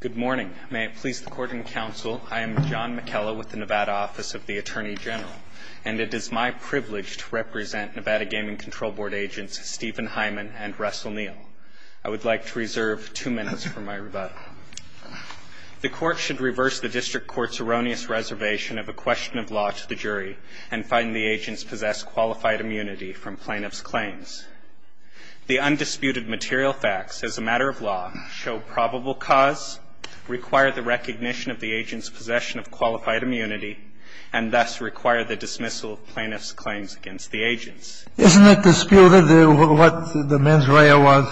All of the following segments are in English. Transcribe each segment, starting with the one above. Good morning. May it please the Court and Counsel, I am John McKella with the Nevada Office of the Attorney General, and it is my privilege to represent Nevada Gaming Control Board agents Stephen Heiman and Russell Neal. I would like to reserve two minutes for my rebuttal. The Court should reverse the District Court's erroneous reservation of a question of law to the jury and find the agents possess qualified immunity from plaintiff's claims. The undisputed material facts as a matter of law show probable cause, require the recognition of the agent's possession of qualified immunity, and thus require the dismissal of plaintiff's claims against the agents. Isn't it disputed what the mens rea was?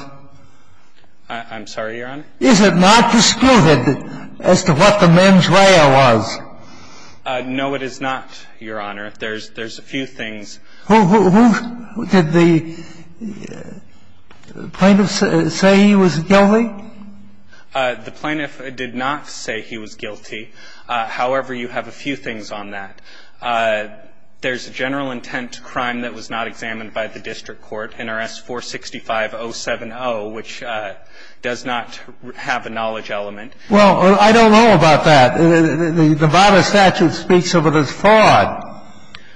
I'm sorry, Your Honor? Is it not disputed as to what the mens rea was? No, it is not, Your Honor. There's a few things. Who did the plaintiff say he was guilty? The plaintiff did not say he was guilty. However, you have a few things on that. There's a general intent crime that was not examined by the District Court, NRS 465-070, which does not have a knowledge element. Well, I don't know about that. The Nevada statute speaks of it as fraud.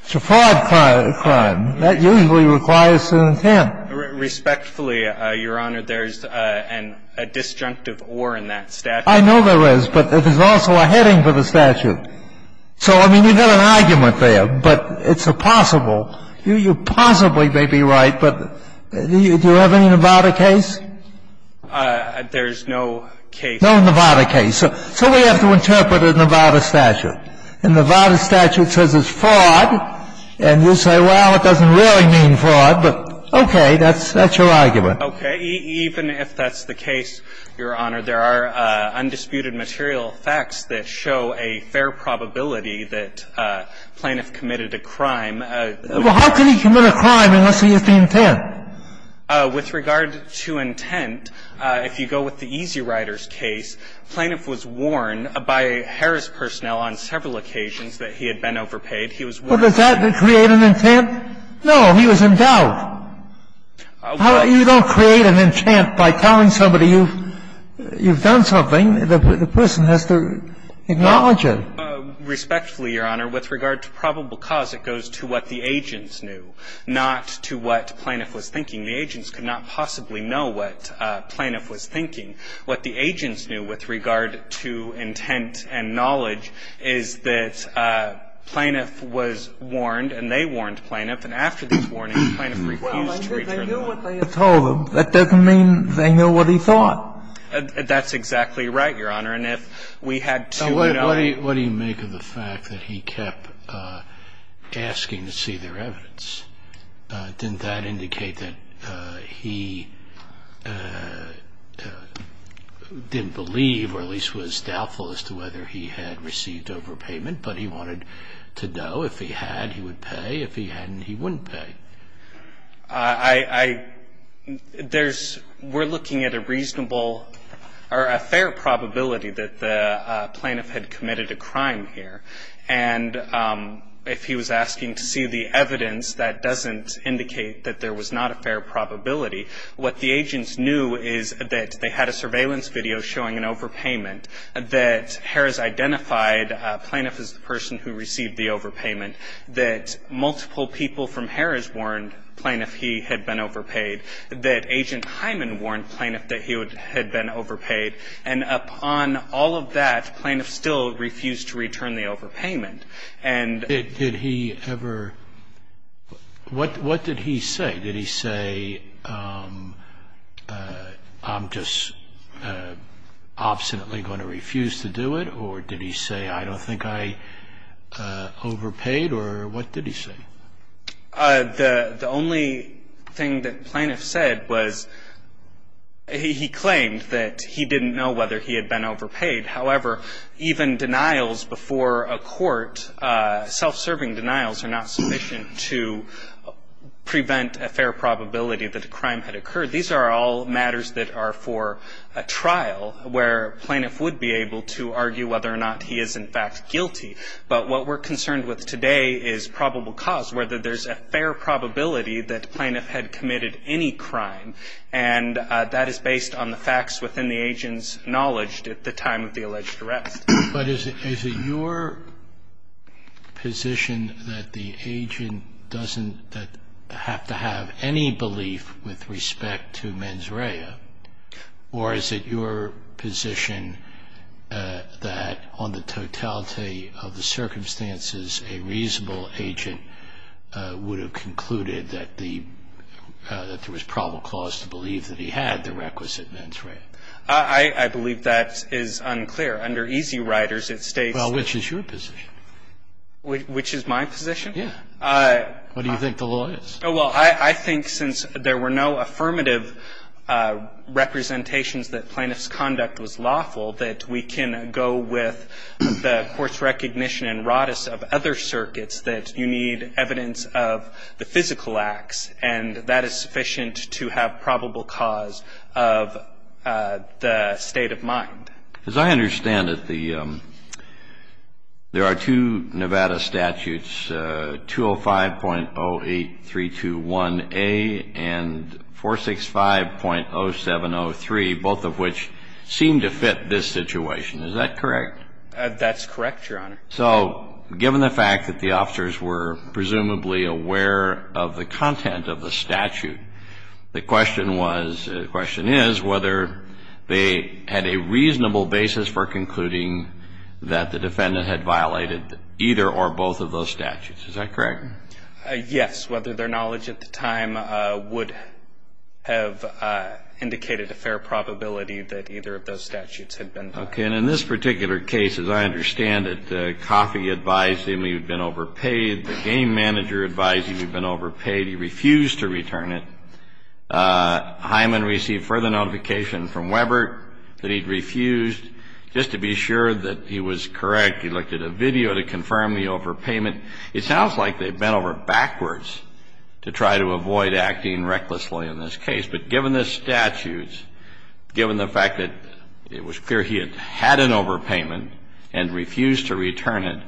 It's a fraud crime. That usually requires an intent. Respectfully, Your Honor, there's a disjunctive or in that statute. I know there is, but there's also a heading for the statute. So, I mean, you've got an argument there, but it's a possible. You possibly may be right, but do you have any Nevada case? There's no case. No Nevada case. So we have to interpret a Nevada statute. And the Nevada statute says it's fraud, and you say, well, it doesn't really mean fraud, but okay, that's your argument. Okay. Even if that's the case, Your Honor, there are undisputed material facts that show a fair probability that plaintiff committed a crime. Well, how can he commit a crime unless he has the intent? With regard to intent, if you go with the Easy Rider's case, plaintiff was warned by Harris personnel on several occasions that he had been overpaid. He was warned. Well, does that create an intent? No. He was in doubt. You don't create an intent by telling somebody you've done something. The person has to acknowledge it. Respectfully, Your Honor, with regard to probable cause, it goes to what the agents knew, not to what plaintiff was thinking. The agents could not possibly know what plaintiff was thinking. What the agents knew with regard to intent and knowledge is that plaintiff was warned, and they warned plaintiff, and after these warnings, plaintiff refused to return the money. Well, they knew what they had told them. That doesn't mean they knew what he thought. That's exactly right, Your Honor. And if we had to, you know ñ What do you make of the fact that he kept asking to see their evidence? Didn't that indicate that he didn't believe or at least was doubtful as to whether he had received overpayment, but he wanted to know if he had, he would pay. If he hadn't, he wouldn't pay. I ñ there's ñ we're looking at a reasonable or a fair probability that the plaintiff had committed a crime here. And if he was asking to see the evidence, that doesn't indicate that there was not a fair probability. What the agents knew is that they had a surveillance video showing an overpayment, that Harris identified plaintiff as the person who received the overpayment, that multiple people from Harris warned plaintiff he had been overpaid, that Agent Hyman warned plaintiff that he had been overpaid, and upon all of that, plaintiff still refused to return the overpayment. And ñ Did he ever ñ what did he say? Did he say, I'm just obstinately going to refuse to do it? Or did he say, I don't think I overpaid? Or what did he say? The only thing that plaintiff said was he claimed that he didn't know whether he had been overpaid. However, even denials before a court, self-serving denials, are not sufficient to prevent a fair probability that a crime had occurred. These are all matters that are for a trial where a plaintiff would be able to argue whether or not he is, in fact, guilty. But what we're concerned with today is probable cause, whether there's a fair probability that the plaintiff had committed any crime. And that is based on the facts within the agent's knowledge at the time of the alleged arrest. But is it your position that the agent doesn't have to have any belief with respect to mens rea? Or is it your position that on the totality of the circumstances, a reasonable agent would have concluded that there was probable cause to believe that he had the requisite mens rea? I believe that is unclear. Under easy riders, it states. Well, which is your position? Which is my position? Yeah. What do you think the law is? Oh, well, I think since there were no affirmative representations that plaintiff's conduct was lawful, that we can go with the court's recognition and ratus of other circuits that you need evidence of the physical acts. And that is sufficient to have probable cause of the state of mind. As I understand it, there are two Nevada statutes, 205.08321A and 465.0703, both of which seem to fit this situation. Is that correct? That's correct, Your Honor. So given the fact that the officers were presumably aware of the content of the statute, the question is whether they had a reasonable basis for concluding that the defendant had violated either or both of those statutes. Is that correct? Yes. Whether their knowledge at the time would have indicated a fair probability that either of those statutes had been violated. Okay. And in this particular case, as I understand it, Coffey advised him he'd been overpaid. The game manager advised him he'd been overpaid. He refused to return it. Hyman received further notification from Weber that he'd refused. Just to be sure that he was correct, he looked at a video to confirm the overpayment. It sounds like they bent over backwards to try to avoid acting recklessly in this case. But given the statutes, given the fact that it was clear he had had an overpayment and refused to return it,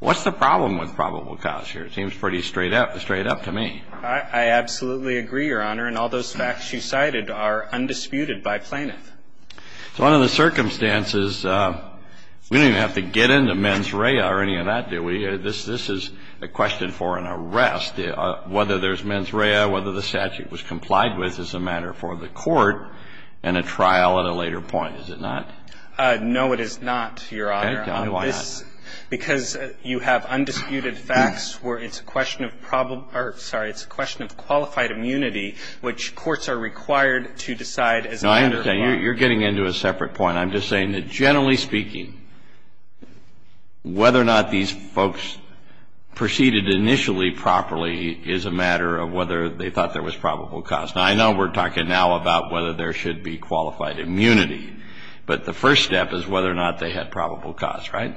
what's the problem with probable cause here? It seems pretty straight up to me. I absolutely agree, Your Honor. And all those facts you cited are undisputed by plaintiff. So under the circumstances, we don't even have to get into mens rea or any of that, do we? This is a question for an arrest. Whether there's mens rea, whether the statute was complied with is a matter for the court and a trial at a later point, is it not? No, it is not, Your Honor. Okay. Why not? Because you have undisputed facts where it's a question of problem or, sorry, it's a question of qualified immunity, which courts are required to decide as a matter of law. No, I understand. You're getting into a separate point. I'm just saying that generally speaking, whether or not these folks proceeded initially properly is a matter of whether they thought there was probable cause. Now, I know we're talking now about whether there should be qualified immunity, but the first step is whether or not they had probable cause, right?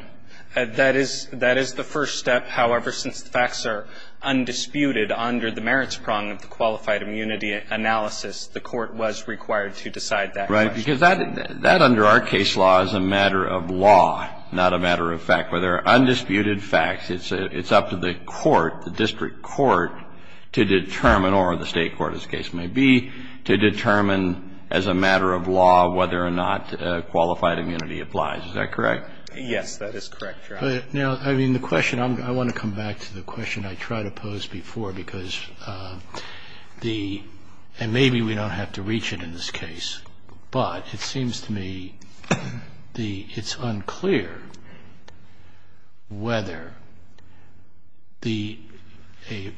That is the first step. However, since the facts are undisputed under the merits prong of the qualified immunity analysis, the court was required to decide that question. Right, because that under our case law is a matter of law, not a matter of fact. Where there are undisputed facts, it's up to the court, the district court, to determine or the state court, as the case may be, to determine as a matter of law whether or not qualified immunity applies. Is that correct? Yes, that is correct, Your Honor. Now, I mean, the question, I want to come back to the question I tried to pose before because the, and maybe we don't have to reach it in this case, but it seems to me the, it's unclear whether the, a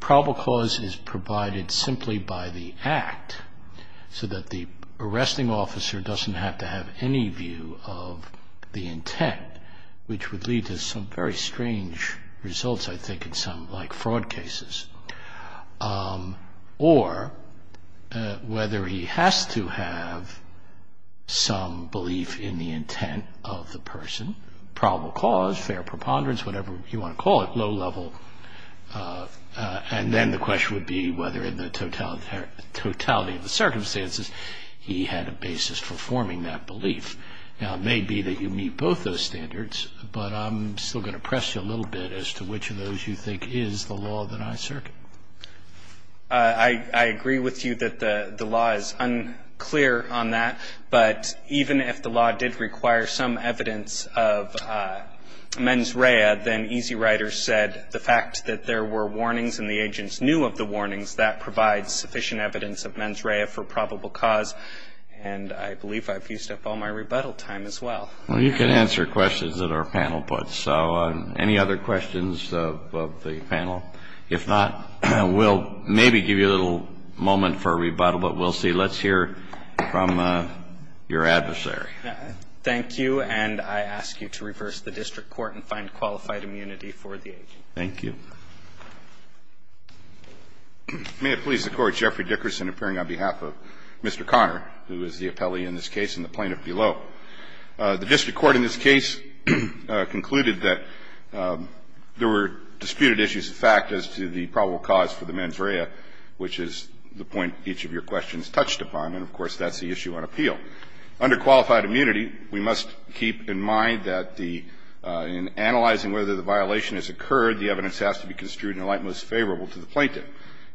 probable cause is provided simply by the act so that the arresting officer doesn't have to have any view of the intent, which would lead to some very strange results, I think, in some, like fraud cases. Or whether he has to have some belief in the intent of the person, probable cause, fair preponderance, whatever you want to call it, low level, and then the question would be whether in the totality of the circumstances he had a basis for forming that belief. Now, it may be that you meet both those standards, but I'm still going to press you a little bit to see which of those you think is the law that I circuit. I agree with you that the law is unclear on that, but even if the law did require some evidence of mens rea, then Easy Rider said the fact that there were warnings and the agents knew of the warnings, that provides sufficient evidence of mens rea for probable cause, and I believe I've used up all my rebuttal time as well. Well, you can answer questions that our panel puts. So any other questions of the panel? If not, we'll maybe give you a little moment for rebuttal, but we'll see. Let's hear from your adversary. Thank you. And I ask you to reverse the district court and find qualified immunity for the agent. Thank you. May it please the Court. Jeffrey Dickerson appearing on behalf of Mr. Conner, who is the appellee in this case, concluded that there were disputed issues of fact as to the probable cause for the mens rea, which is the point each of your questions touched upon, and, of course, that's the issue on appeal. Under qualified immunity, we must keep in mind that the – in analyzing whether the violation has occurred, the evidence has to be construed in a light most favorable to the plaintiff.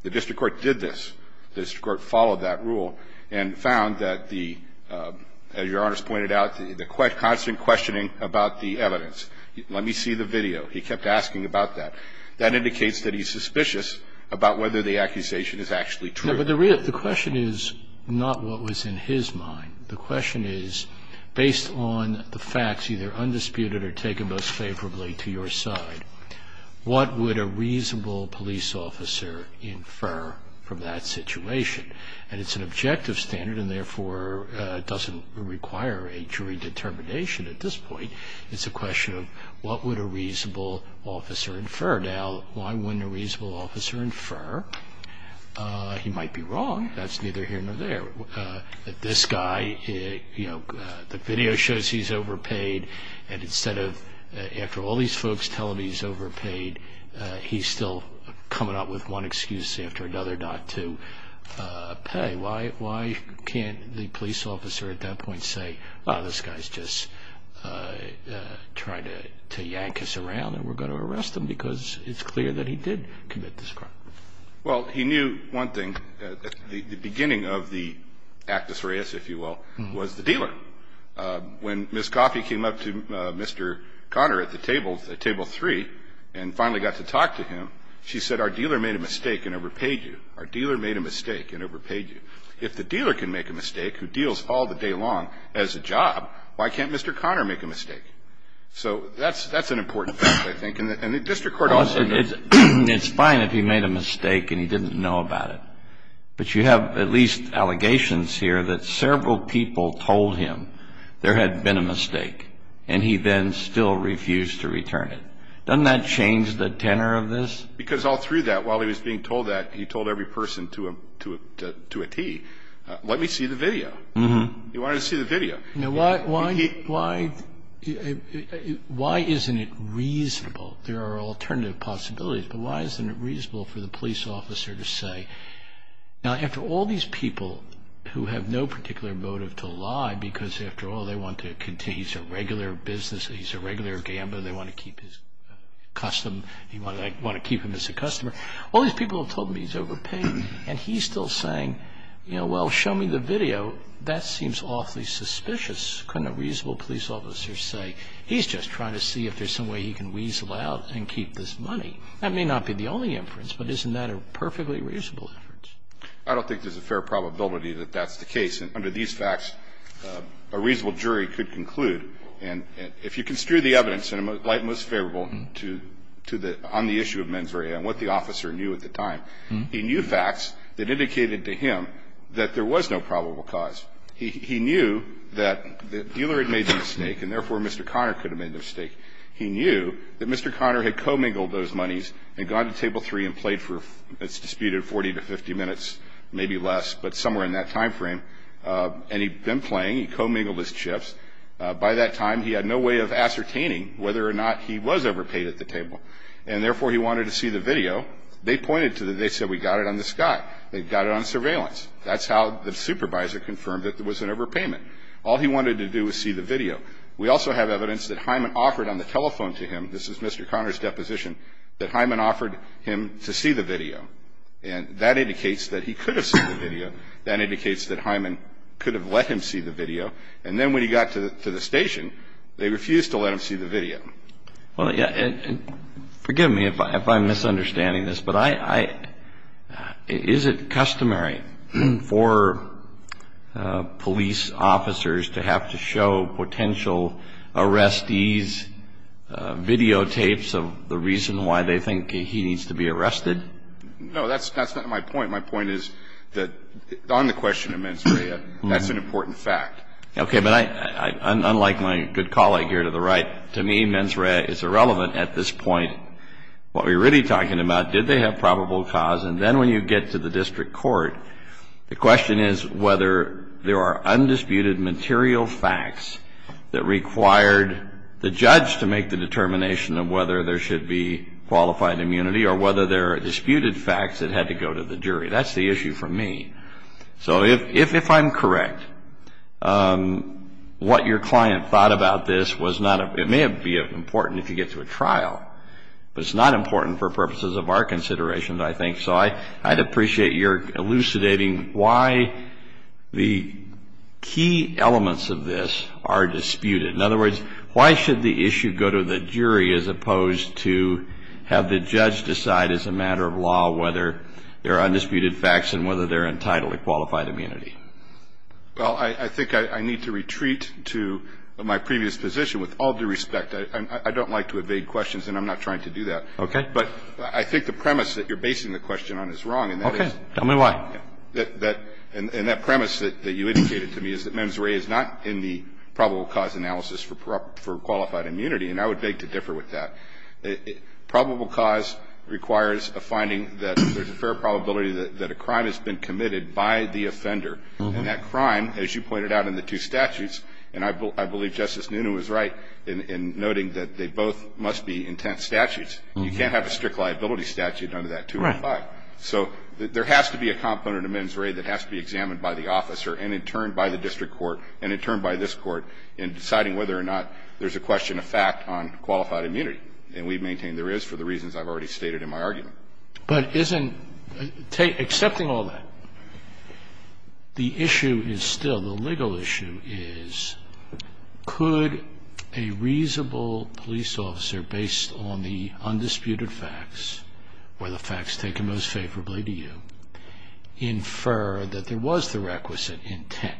The district court did this. The district court followed that rule and found that the – as Your Honors pointed out, the constant questioning about the evidence. Let me see the video. He kept asking about that. That indicates that he's suspicious about whether the accusation is actually true. No, but the question is not what was in his mind. The question is, based on the facts, either undisputed or taken most favorably to your side, what would a reasonable police officer infer from that situation? And it's an objective standard and, therefore, doesn't require a jury determination at this point. It's a question of what would a reasonable officer infer. Now, why wouldn't a reasonable officer infer he might be wrong? That's neither here nor there. This guy, you know, the video shows he's overpaid, and instead of – after all these folks telling him he's overpaid, he's still coming up with one excuse after another not to pay. Why can't the police officer at that point say, oh, this guy's just trying to yank us around and we're going to arrest him because it's clear that he did commit this crime? Well, he knew one thing at the beginning of the actus reus, if you will, was the dealer. When Ms. Coffey came up to Mr. Conner at the table, table 3, and finally got to talk to him, she said, our dealer made a mistake and overpaid you. Our dealer made a mistake and overpaid you. If the dealer can make a mistake who deals all the day long as a job, why can't Mr. Conner make a mistake? So that's an important fact, I think. And the district court also knows. It's fine if he made a mistake and he didn't know about it, but you have at least allegations here that several people told him there had been a mistake, and he then still refused to return it. Doesn't that change the tenor of this? Because all through that, while he was being told that, he told every person to a T, let me see the video. He wanted to see the video. Now, why isn't it reasonable? There are alternative possibilities, but why isn't it reasonable for the police officer to say, now, after all these people who have no particular motive to lie because, after all, they want to continue, he's a regular business, he's a regular gambler, they want to keep his custom, they want to keep him as a customer. All these people have told him he's overpaid, and he's still saying, you know, well, show me the video. That seems awfully suspicious. Couldn't a reasonable police officer say, he's just trying to see if there's some way he can weasel out and keep this money? That may not be the only inference, but isn't that a perfectly reasonable inference? I don't think there's a fair probability that that's the case. And under these facts, a reasonable jury could conclude. And if you construe the evidence, and Leighton was favorable to the – on the issue of mens rea and what the officer knew at the time, he knew facts that indicated to him that there was no probable cause. He knew that the dealer had made the mistake, and therefore Mr. Conner could have made the mistake. He knew that Mr. Conner had commingled those monies and gone to Table 3 and played for, it's disputed, 40 to 50 minutes, maybe less, but somewhere in that time frame. And he'd been playing, he'd commingled his chips. By that time, he had no way of ascertaining whether or not he was overpaid at the table, and therefore he wanted to see the video. They pointed to it. They said, we got it on the sky. They got it on surveillance. That's how the supervisor confirmed that there was an overpayment. All he wanted to do was see the video. We also have evidence that Hyman offered on the telephone to him, this is Mr. Conner's deposition, that Hyman offered him to see the video. And that indicates that he could have seen the video. That indicates that Hyman could have let him see the video. And then when he got to the station, they refused to let him see the video. Well, forgive me if I'm misunderstanding this, but I, is it customary for police officers to have to show potential arrestees videotapes of the reason why they think he needs to be arrested? No, that's not my point. My point is that on the question of mens rea, that's an important fact. Okay. But I, unlike my good colleague here to the right, to me mens rea is irrelevant at this point. What we're really talking about, did they have probable cause? And then when you get to the district court, the question is whether there are undisputed material facts that required the judge to make the determination of whether there should be qualified immunity or whether there are disputed facts that had to go to the jury. That's the issue for me. So if I'm correct, what your client thought about this was not, it may be important if you get to a trial, but it's not important for purposes of our considerations, I think. So I'd appreciate your elucidating why the key elements of this are disputed. In other words, why should the issue go to the jury as opposed to have the judge decide as a matter of law whether there are undisputed facts and whether they're entitled to qualified immunity? Well, I think I need to retreat to my previous position with all due respect. I don't like to evade questions, and I'm not trying to do that. Okay. But I think the premise that you're basing the question on is wrong. Okay. Tell me why. And that premise that you indicated to me is that mens rea is not in the probable cause analysis for qualified immunity, and I would beg to differ with that. Probable cause requires a finding that there's a fair probability that a crime has been committed by the offender. And that crime, as you pointed out in the two statutes, and I believe Justice Noonan was right in noting that they both must be intense statutes. You can't have a strict liability statute under that 205. Right. So there has to be a component of mens rea that has to be examined by the officer and in turn by the district court and in turn by this Court in deciding whether or not there's a question of fact on qualified immunity. And we've maintained there is for the reasons I've already stated in my argument. But isn't – accepting all that, the issue is still, the legal issue is, could a reasonable police officer, based on the undisputed facts or the facts taken most favorably to you, infer that there was the requisite intent,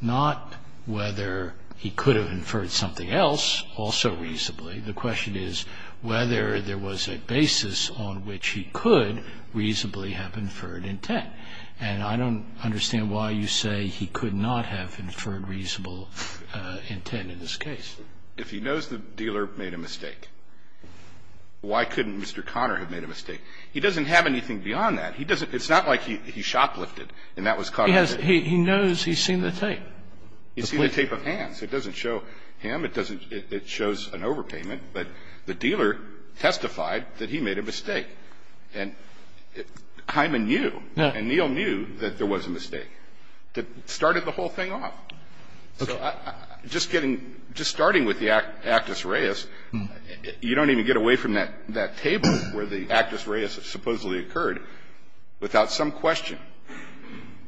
not whether he could have inferred something else also reasonably. The question is whether there was a basis on which he could reasonably have inferred intent. And I don't understand why you say he could not have inferred reasonable intent in this case. If he knows the dealer made a mistake, why couldn't Mr. Connor have made a mistake? He doesn't have anything beyond that. He doesn't – it's not like he shoplifted and that was caught on video. He has – he knows he's seen the tape. He's seen the tape of hands. It doesn't show him. It doesn't – it shows an overpayment. But the dealer testified that he made a mistake. And Hyman knew. And Neal knew that there was a mistake that started the whole thing off. So just getting – just starting with the actus reus, you don't even get away from that table where the actus reus supposedly occurred without some question,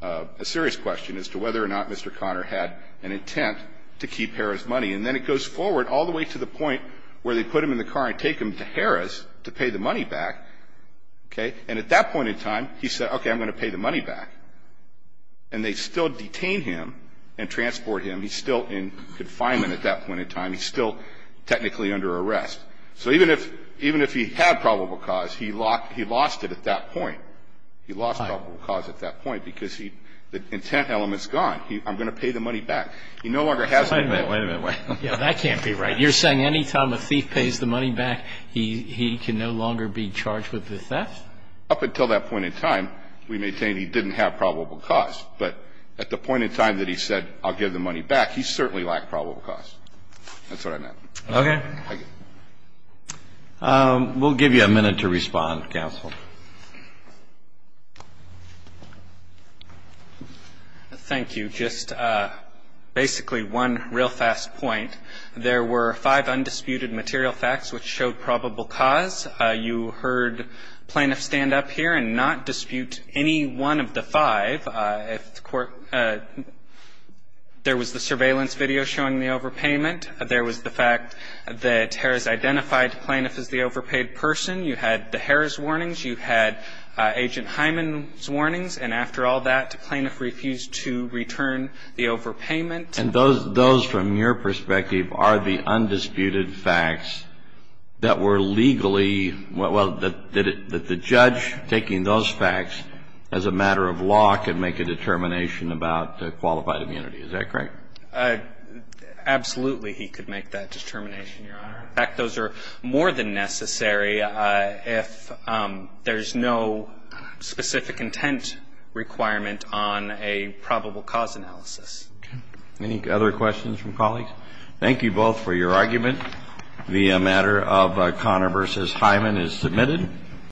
a serious question as to whether or not Mr. Connor had an intent to keep Harrah's money. And then it goes forward all the way to the point where they put him in the car and take him to Harrah's to pay the money back. Okay? And at that point in time, he said, okay, I'm going to pay the money back. And they still detain him and transport him. He's still in confinement at that point in time. He's still technically under arrest. So even if – even if he had probable cause, he lost it at that point. He lost probable cause at that point because he – the intent element's gone. I'm going to pay the money back. He no longer has the intent. Wait a minute. Wait a minute. Wait. That can't be right. You're saying any time a thief pays the money back, he can no longer be charged with the theft? Up until that point in time, we maintain he didn't have probable cause. But at the point in time that he said, I'll give the money back, he certainly lacked probable cause. That's what I meant. Okay. Thank you. We'll give you a minute to respond, counsel. Thank you. Just basically one real fast point. There were five undisputed material facts which showed probable cause. You heard plaintiffs stand up here and not dispute any one of the five. There was the surveillance video showing the overpayment. There was the fact that Harris identified the plaintiff as the overpaid person. You had the Harris warnings. You had Agent Hyman's warnings. And after all that, the plaintiff refused to return the overpayment. And those from your perspective are the undisputed facts that were legally well, that the judge taking those facts as a matter of law could make a determination about qualified immunity. Is that correct? Absolutely, he could make that determination, Your Honor. In fact, those are more than necessary if there's no specific intent requirement on a probable cause analysis. Okay. Any other questions from colleagues? Thank you both for your argument. The matter of Connor v. Hyman is submitted.